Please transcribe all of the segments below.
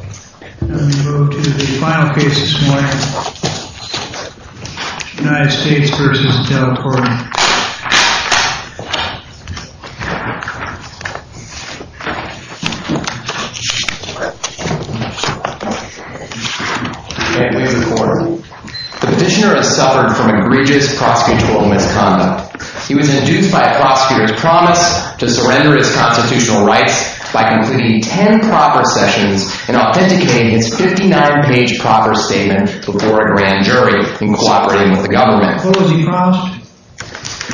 The petitioner has suffered from egregious prosecutorial misconduct. He was induced by a prosecutor's promise to surrender his constitutional rights by completing ten proper sessions in a court of law. He was prompted to authenticate his 59-page proper statement before a grand jury in cooperating with the government.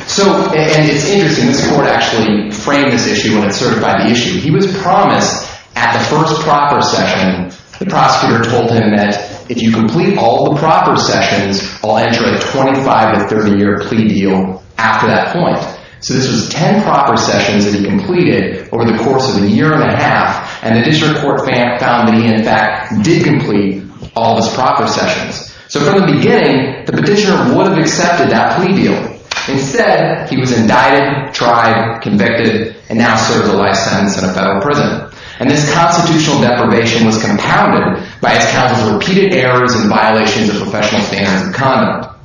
So, and it's interesting, this court actually framed this issue when it certified the issue. He was promised at the first proper session, the prosecutor told him that if you complete all the proper sessions, I'll enter a 25- to 30-year plea deal after that point. So this was ten proper sessions that he completed over the course of a year and a half. And the district court found that he, in fact, did complete all his proper sessions. So from the beginning, the petitioner would have accepted that plea deal. Instead, he was indicted, tried, convicted, and now serves a life sentence in a federal prison. And this constitutional deprivation was compounded by his counsel's repeated errors and violations of professional standards of conduct.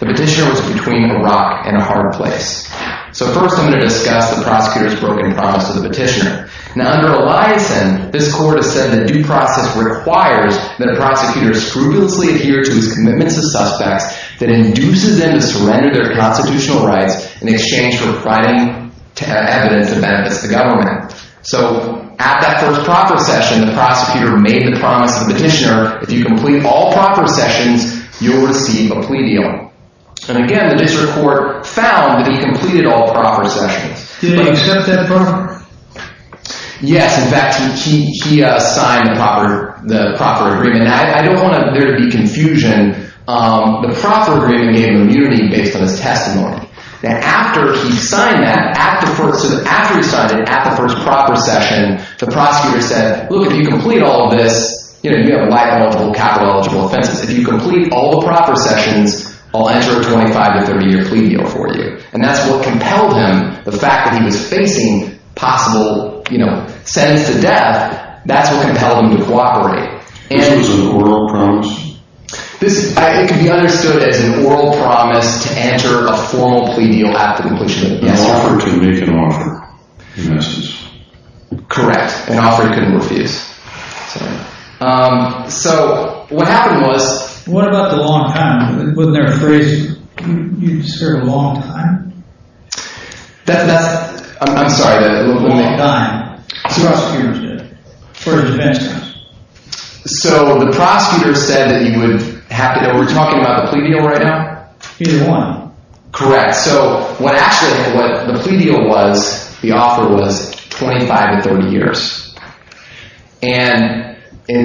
The petitioner was between a rock and a hard place. So first, I'm going to discuss the prosecutor's broken promise to the petitioner. Now, under Eliason, this court has said that due process requires that a prosecutor scrupulously adhere to his commitments to suspects that induces them to surrender their constitutional rights in exchange for providing evidence that benefits the government. So at that first proper session, the prosecutor made the promise to the petitioner, if you complete all proper sessions, you'll receive a plea deal. And again, the district court found that he completed all proper sessions. Did he accept that promise? Yes. In fact, he signed the proper agreement. Now, I don't want there to be confusion. The proper agreement gave immunity based on his testimony. Now, after he signed that, after he signed it, at the first proper session, the prosecutor said, look, if you complete all of this, you have life eligible, capital eligible offenses. If you complete all the proper sessions, I'll enter a 25- to 30-year plea deal for you. And that's what compelled him. The fact that he was facing possible sentence to death, that's what compelled him to cooperate. And it was an oral promise? It can be understood as an oral promise to enter a formal plea deal at the completion of the S.R. An offer to make an offer, he misses. Correct. An offer he couldn't refuse. So what happened was— What about the long time? Wasn't there a phrase, you served a long time? That's—I'm sorry. Prosecutors did. For a defense case. So the prosecutor said that he would—we're talking about the plea deal right now? He didn't want to. Correct. So what actually the plea deal was, the offer was 25 to 30 years. And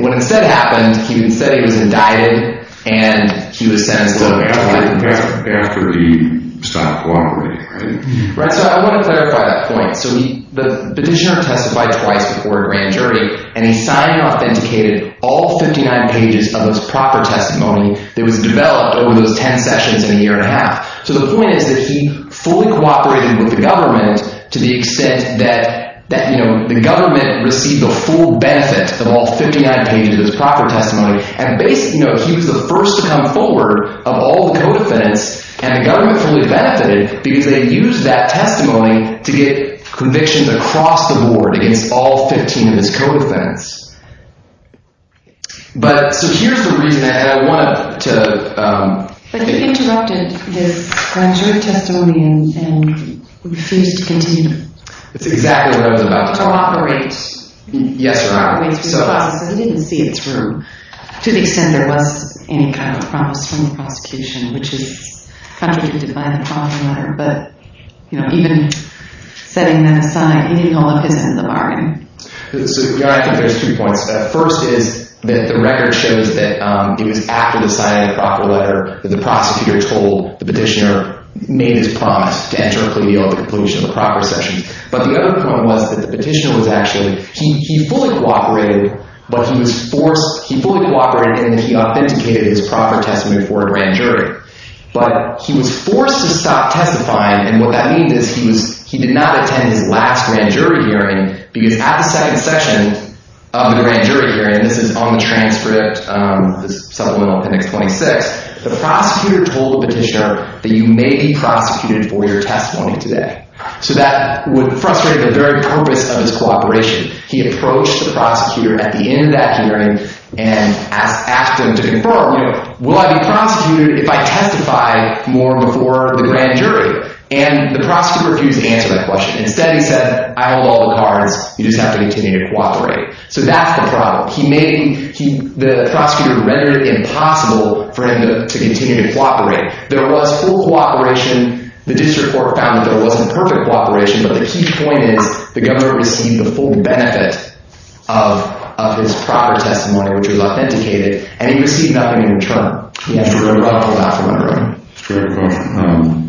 what instead happened, he said he was indicted, and he was sentenced to life in prison. After he stopped cooperating, right? Right. So I want to clarify that point. So the petitioner testified twice before he ran jury, and he signed and authenticated all 59 pages of his proper testimony that was developed over those 10 sessions in a year and a half. So the point is that he fully cooperated with the government to the extent that the government received the full benefit of all 59 pages of his proper testimony. And basically, you know, he was the first to come forward of all the co-defendants, and the government fully benefited because they used that testimony to get convictions across the board against all 15 of his co-defendants. But—so here's the reason that I wanted to— But he interrupted this grand jury testimony and refused to continue. That's exactly what I was about to tell you. Yes, Your Honor. He went through the process, and he didn't see it through to the extent there was any kind of promise from the prosecution, which is completed by the proper letter. But, you know, even setting that aside, he did all of his end of the bargain. So, Your Honor, I think there's two points to that. First is that the record shows that it was after the signing of the proper letter that the prosecutor told the petitioner—made his promise to enter a plea deal at the conclusion of the proper session. But the other point was that the petitioner was actually—he fully cooperated, but he was forced—he fully cooperated in that he authenticated his proper testimony for a grand jury. But he was forced to stop testifying, and what that means is he was—he did not attend his last grand jury hearing because at the second session of the grand jury hearing—this is on the transcript, the supplemental appendix 26—the prosecutor told the petitioner that you may be prosecuted for your testimony today. So that would frustrate the very purpose of his cooperation. He approached the prosecutor at the end of that hearing and asked him to confirm, you know, will I be prosecuted if I testify more before the grand jury? And the prosecutor refused to answer that question. Instead, he said, I hold all the cards. You just have to continue to cooperate. So that's the problem. He made—the prosecutor rendered it impossible for him to continue to cooperate. There was full cooperation. The district court found that there wasn't perfect cooperation. But the key point is the governor received the full benefit of his proper testimony, which was authenticated, and he received nothing in return. He had to run about for a while.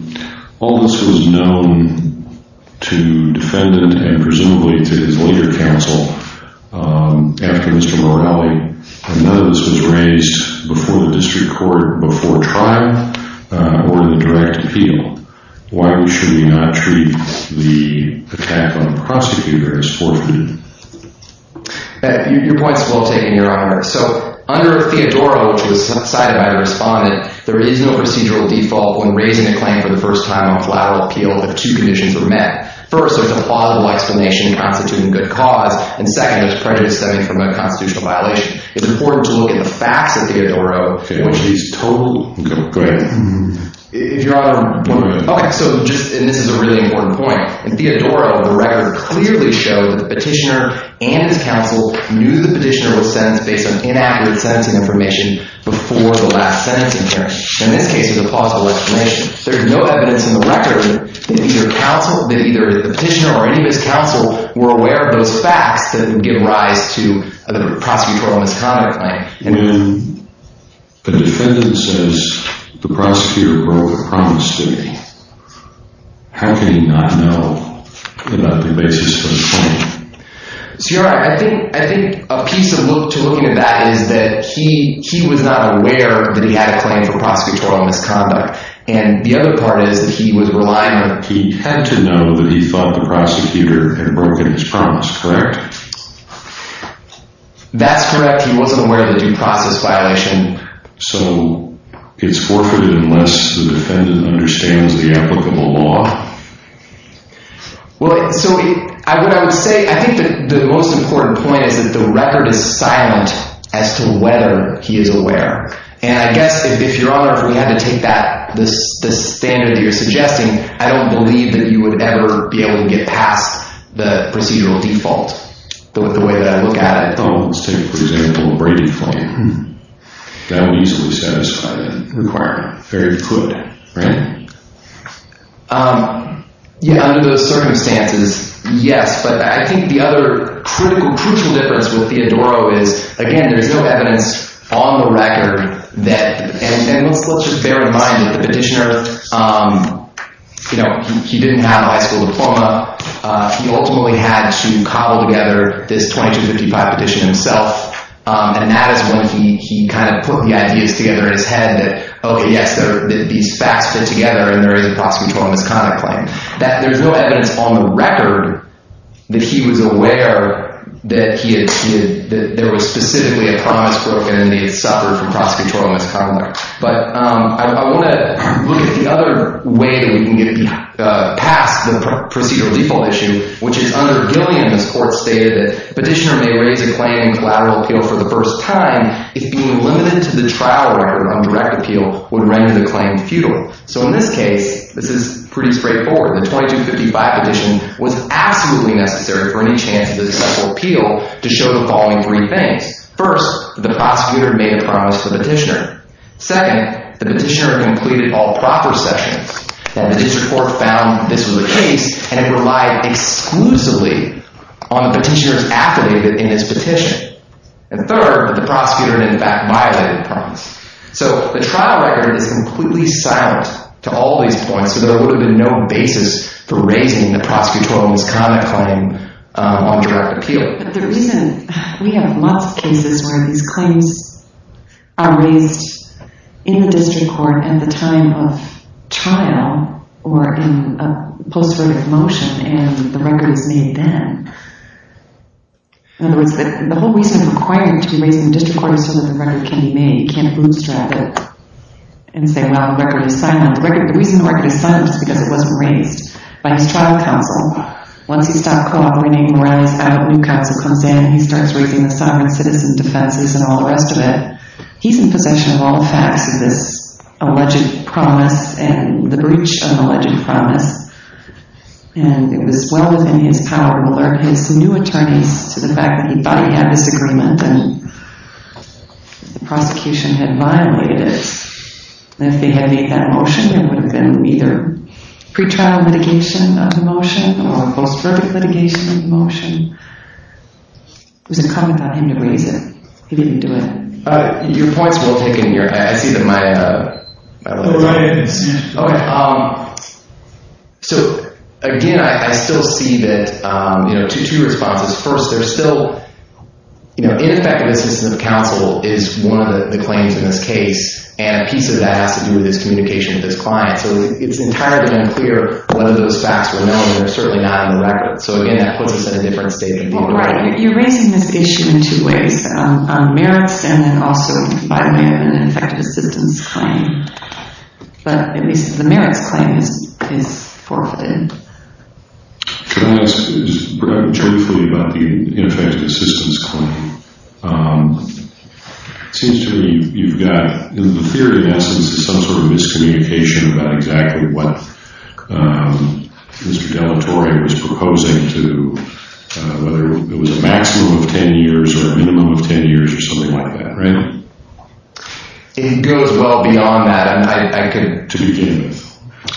All this was known to defendant and presumably to his later counsel after Mr. Morrelli, and none of this was raised before the district court before trial or in a direct appeal. Why should we not treat the attack on the prosecutor as fortunate? Your point is well taken, Your Honor. So under Theodora, which was cited by the respondent, there is no procedural default when raising a claim for the first time on collateral appeal if two conditions are met. First, there's a plausible explanation constituting good cause, and second, there's prejudice stemming from a constitutional violation. It's important to look at the facts of Theodora, which is total— Okay, go ahead. If Your Honor— Go ahead. Okay, so just—and this is a really important point. In Theodora, the record clearly showed that the petitioner and his counsel knew the petitioner was sentenced based on inaccurate sentencing information before the last sentencing hearing. In this case, there's a plausible explanation. There's no evidence in the record that either the petitioner or any of his counsel were aware of those facts that would give rise to a prosecutorial misconduct claim. When the defendant says, the prosecutor broke the promise to me, how can he not know about the basis of the claim? So Your Honor, I think a piece of looking at that is that he was not aware that he had a claim for prosecutorial misconduct, and the other part is that he was relying on— He had to know that he thought the prosecutor had broken his promise, correct? That's correct. He wasn't aware of the due process violation. So it's forfeited unless the defendant understands the applicable law? Well, so what I would say—I think the most important point is that the record is silent as to whether he is aware. And I guess if Your Honor, if we had to take that—the standard that you're suggesting, I don't believe that you would ever be able to get past the procedural default. The way that I look at it. Oh, let's take, for example, a breaking claim. That would easily satisfy that requirement. Very good, right? Yeah, under those circumstances, yes. But I think the other critical difference with Theodoro is, again, there's no evidence on the record that—and let's just bear in mind that the petitioner, you know, he didn't have a high school diploma. He ultimately had to cobble together this 2255 petition himself. And that is when he kind of put the ideas together in his head that, okay, yes, these facts fit together and there is a prosecutorial misconduct claim. There's no evidence on the record that he was aware that there was specifically a promise broken and he had suffered from prosecutorial misconduct. But I want to look at the other way that we can get past the procedural default issue, which is under Gillian. This court stated that the petitioner may raise a claim in collateral appeal for the first time if being limited to the trial record on direct appeal would render the claim futile. So in this case, this is pretty straightforward. The 2255 petition was absolutely necessary for any chance of successful appeal to show the following three things. First, the prosecutor made a promise to the petitioner. Second, the petitioner completed all proper sessions and the district court found this was the case and it relied exclusively on the petitioner's affidavit in this petition. And third, the prosecutor in fact violated the promise. So the trial record is completely silent to all these points, so there would have been no basis for raising the prosecutorial misconduct claim on direct appeal. We have lots of cases where these claims are raised in the district court at the time of trial or in a post-verdict motion and the record is made then. In other words, the whole reason required to be raised in the district court is so that the record can be made. You can't bootstrap it and say, well, the record is silent. The reason the record is silent is because it wasn't raised by his trial counsel. Once he stopped co-operating and rallies out, a new counsel comes in and he starts raising the sovereign citizen defenses and all the rest of it. He's in possession of all the facts of this alleged promise and the breach of the alleged promise. And it was well within his power to alert his new attorneys to the fact that he thought he had this agreement and the prosecution had violated it. And if they had made that motion, there would have been either pretrial litigation of the motion or a post-verdict litigation of the motion. It was incumbent on him to raise it. He didn't do it. Your point is well taken here. I see that my… Oh, right. Okay. So, again, I still see that, you know, two responses. First, there's still, you know, ineffective assistance of counsel is one of the claims in this case. And a piece of that has to do with his communication with his client. So it's entirely unclear whether those facts were known. They're certainly not in the record. So, again, that puts us in a different state of the board. Well, Brian, you're raising this issue in two ways, on merits and then also by way of an ineffective assistance claim. But at least the merits claim is forfeited. Can I ask, just briefly about the ineffective assistance claim? It seems to me you've got, in theory, in essence, some sort of miscommunication about exactly what Mr. Dellatore was proposing to, whether it was a maximum of 10 years or a minimum of 10 years or something like that, right? It goes well beyond that. And I could… To begin with.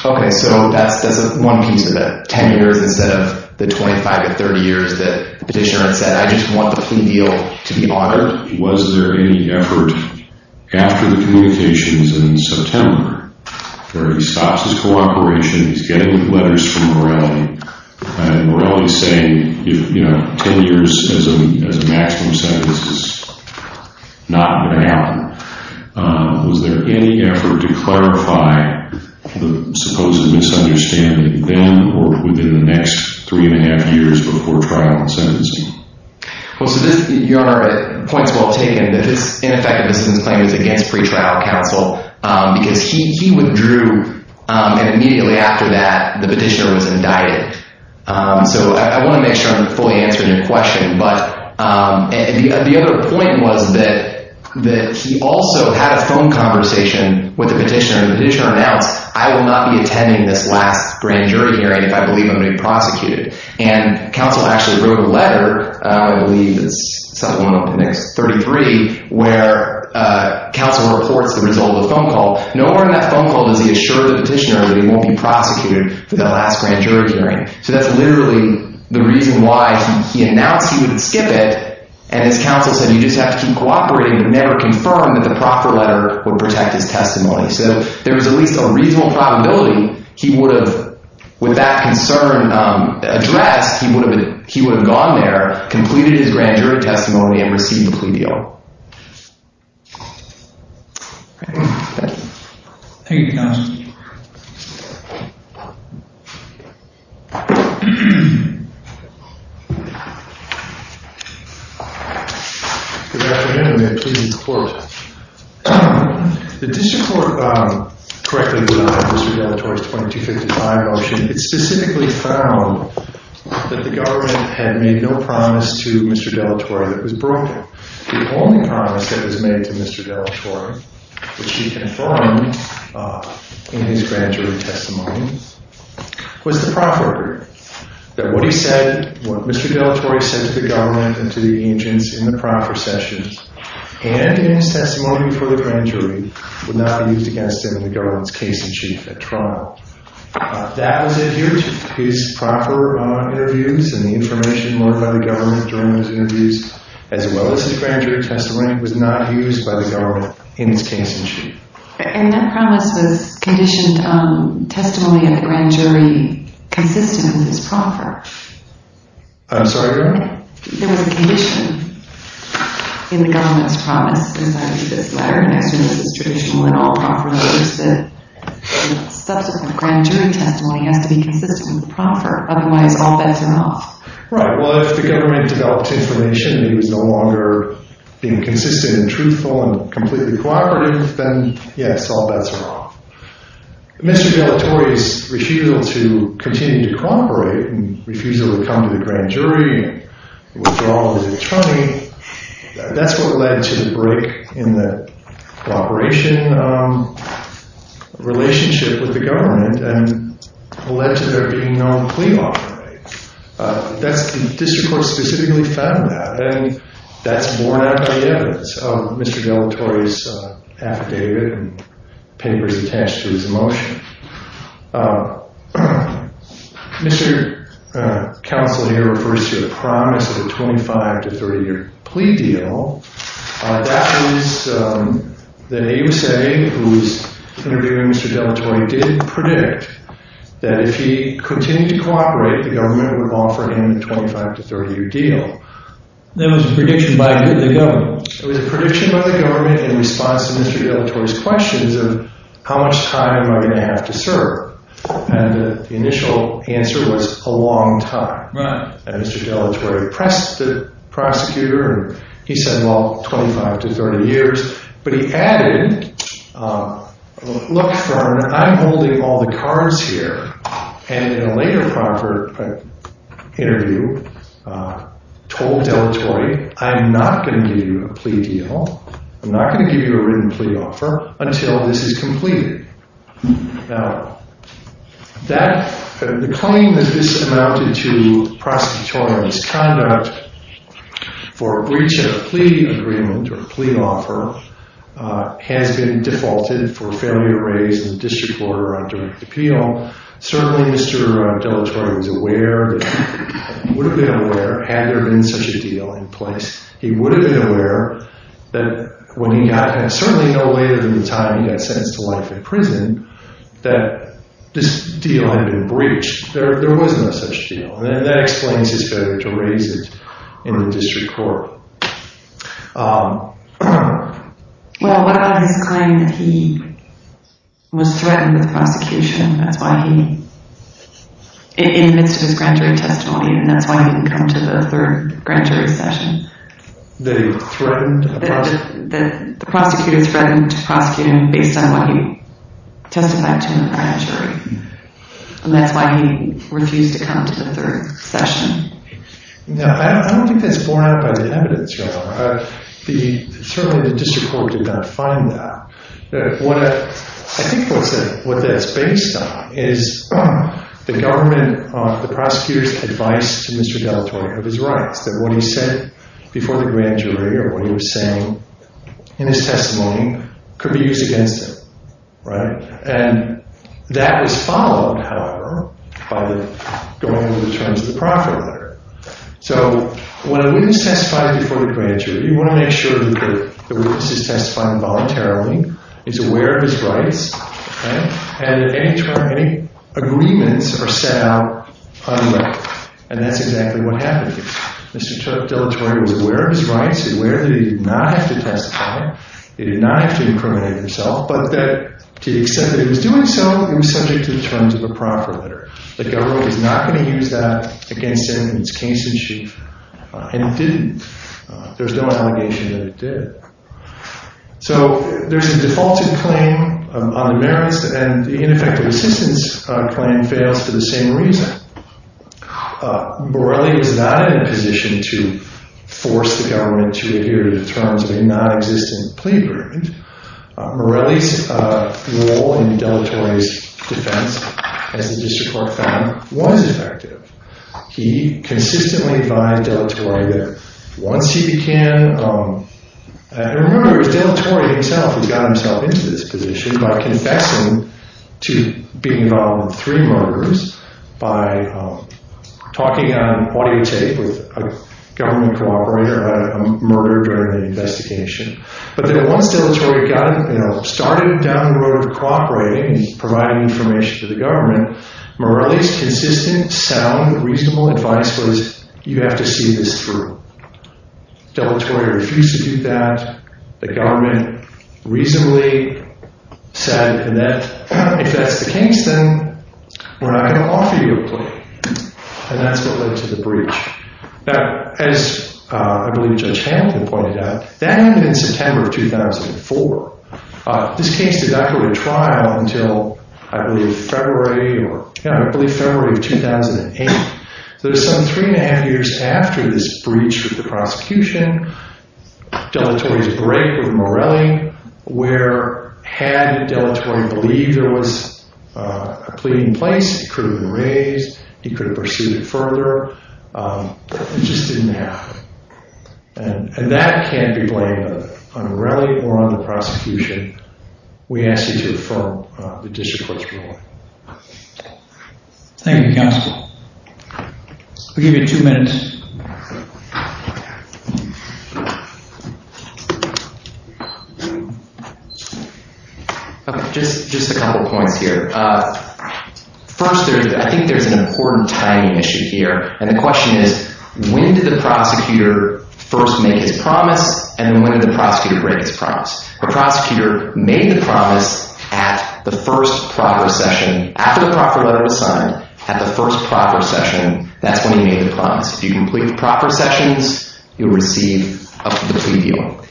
Okay. So that's one piece of it, 10 years instead of the 25 or 30 years that the petitioner had said, I just want the plea deal to be authored. Was there any effort after the communications in September where he stops his cooperation, he's getting letters from Morelli, and Morelli's saying, you know, 10 years as a maximum sentence is not going to happen. Was there any effort to clarify the supposed misunderstanding then or within the next three and a half years before trial and sentencing? Well, so this, Your Honor, points well taken, that this ineffective assistance claim was against pretrial counsel because he withdrew and immediately after that the petitioner was indicted. So I want to make sure I'm fully answering your question. But the other point was that he also had a phone conversation with the petitioner. The petitioner announced, I will not be attending this last grand jury hearing if I believe I'm going to be prosecuted. And counsel actually wrote a letter, I believe it's something along the lines of 33, where counsel reports the result of the phone call. Nowhere in that phone call does he assure the petitioner that he won't be prosecuted for the last grand jury hearing. So that's literally the reason why he announced he wouldn't skip it, and his counsel said you just have to keep cooperating but never confirm that the proper letter would protect his testimony. So there was at least a reasonable probability he would have, with that concern addressed, he would have gone there, completed his grand jury testimony, and received the plea deal. Thank you, counsel. Good afternoon. We have pleading support. The district court correctly denied Mr. Dellatore's 2255 motion. It specifically found that the government had made no promise to Mr. Dellatore that it was broken. The only promise that was made to Mr. Dellatore, which he confirmed in his grand jury testimony, was the proper agreement. That what he said, what Mr. Dellatore said to the government and to the agents in the proper session, and in his testimony for the grand jury, would not be used against him in the government's case in chief at trial. That was adhered to. His proper interviews and the information brought by the government during those interviews, as well as his grand jury testimony, was not used by the government in his case in chief. And that promise was conditioned on testimony of the grand jury consistent with his proper. I'm sorry, go ahead. There was a condition in the government's promise, as I read this letter, next to this illustration, that the subsequent grand jury testimony has to be consistent with the proper. Otherwise, all bets are off. Right, well, if the government developed information that he was no longer being consistent and truthful and completely cooperative, then yes, all bets are off. Mr. Dellatore's refusal to continue to cooperate and refusal to come to the grand jury, withdrawal of his attorney, that's what led to the break in the cooperation relationship with the government and led to there being no plea offering. The district court specifically found that, and that's borne out by evidence of Mr. Dellatore's affidavit and papers attached to his motion. Mr. Counsel here refers to the promise of a 25- to 30-year plea deal. That was that AUSA, who was interviewing Mr. Dellatore, did predict that if he continued to cooperate, the government would offer him a 25- to 30-year deal. That was a prediction by the government. It was a prediction by the government in response to Mr. Dellatore's questions of how much time am I going to have to serve? And the initial answer was a long time. And Mr. Dellatore pressed the prosecutor and he said, well, 25 to 30 years. But he added, look, Fern, I'm holding all the cards here. And in a later interview, told Dellatore, I'm not going to give you a plea deal. I'm not going to give you a written plea offer until this is completed. Now, the coming of this amounted to prosecutorial misconduct for breach of a plea agreement or a plea offer has been defaulted for failure to raise in the district court or under appeal. Certainly, Mr. Dellatore was aware, would have been aware had there been such a deal in place. He would have been aware that when he got, and certainly no later than the time he got sentenced to life in prison, that this deal had been breached. There was no such deal. And that explains his failure to raise it in the district court. Well, what about his claim that he was threatened with prosecution? That's why he, in the midst of his grand jury testimony, and that's why he didn't come to the third grand jury session. That he was threatened? That the prosecutor threatened to prosecute him based on what he testified to in the grand jury. And that's why he refused to come to the third session. Now, I don't think that's borne out by the evidence, Your Honor. Certainly, the district court did not find that. I think what that's based on is the government, the prosecutor's advice to Mr. Dellatore of his rights. That what he said before the grand jury or what he was saying in his testimony could be used against him, right? And that was followed, however, by going over the terms of the profit letter. So when a witness testifies before the grand jury, you want to make sure that the witness is testifying voluntarily, is aware of his rights, and that any agreements are set out on the letter. And that's exactly what happened. Mr. Dellatore was aware of his rights, aware that he did not have to testify, he did not have to incriminate himself, but that to the extent that he was doing so, he was subject to the terms of the profit letter. The government is not going to use that against him in its case in chief. And it didn't. There's no allegation that it did. So there's a defaulted claim on the merits, and the ineffective assistance claim fails for the same reason. Morelli is not in a position to force the government to adhere to the terms of a nonexistent plea agreement. Morelli's role in Dellatore's defense, as the district court found, was effective. He consistently advised Dellatore that once he began, and remember it was Dellatore himself who got himself into this position, by confessing to being involved in three murders, by talking on audio tape with a government cooperator about a murder during the investigation. But then once Dellatore started down the road of cooperating and providing information to the government, Morelli's consistent, sound, reasonable advice was, you have to see this through. Dellatore refused to do that. The government reasonably said that if that's the case, then we're not going to offer you a plea. And that's what led to the breach. Now, as I believe Judge Hamilton pointed out, that happened in September of 2004. This case did not go to trial until, I believe, February of 2008. So there's some three and a half years after this breach of the prosecution, Dellatore's break with Morelli, where had Dellatore believed there was a plea in place, it could have been raised, he could have pursued it further. It just didn't happen. And that can't be blamed on Morelli or on the prosecution. We ask you to affirm the district court's ruling. Thank you, counsel. We'll give you two minutes. Just a couple points here. First, I think there's an important tie-in issue here, and the question is, when did the prosecutor first make his promise, and when did the prosecutor break his promise? The prosecutor made the promise at the first proper session, after the proper letter was signed, at the first proper session. That's when he made the promise. If you complete the proper sessions, you'll receive the plea deal.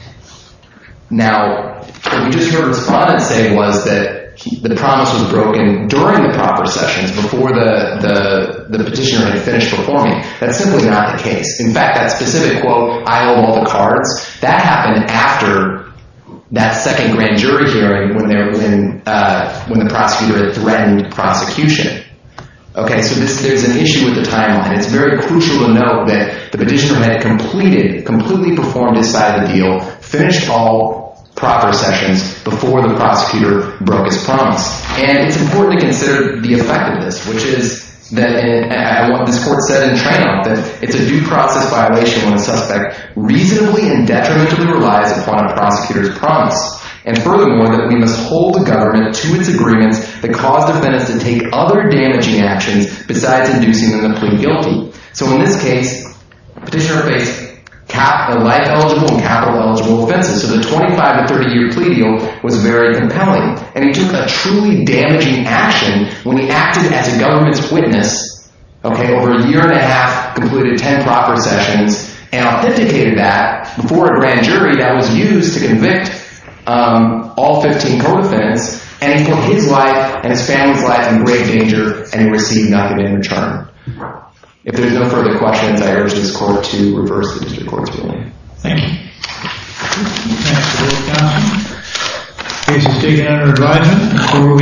Now, what we just heard the respondent say was that the promise was broken during the proper sessions, before the petitioner had finished performing. That's simply not the case. In fact, that specific quote, I owe all the cards, that happened after that second grand jury hearing, when the prosecutor had threatened prosecution. Okay, so there's an issue with the timeline. It's very crucial to note that the petitioner had completed, completely performed his side of the deal, finished all proper sessions, before the prosecutor broke his promise. And it's important to consider the effect of this, which is what this court said in Traynham, that it's a due process violation when a suspect reasonably and detrimentally relies upon a prosecutor's promise. And furthermore, that we must hold the government to its agreements that cause defendants to take other damaging actions, besides inducing them to plead guilty. So in this case, petitioner faced life-eligible and capital-eligible offenses, so the 25- to 30-year plea deal was very compelling. And he took a truly damaging action when he acted as a government's witness, okay, over a year and a half, completed 10 proper sessions, and authenticated that before a grand jury that was used to convict all 15 co-defendants, and he put his life and his family's life in grave danger, and he received nothing in return. If there's no further questions, I urge this court to reverse the district court's ruling. Thank you. Thank you for your time. Case is taken under advisory.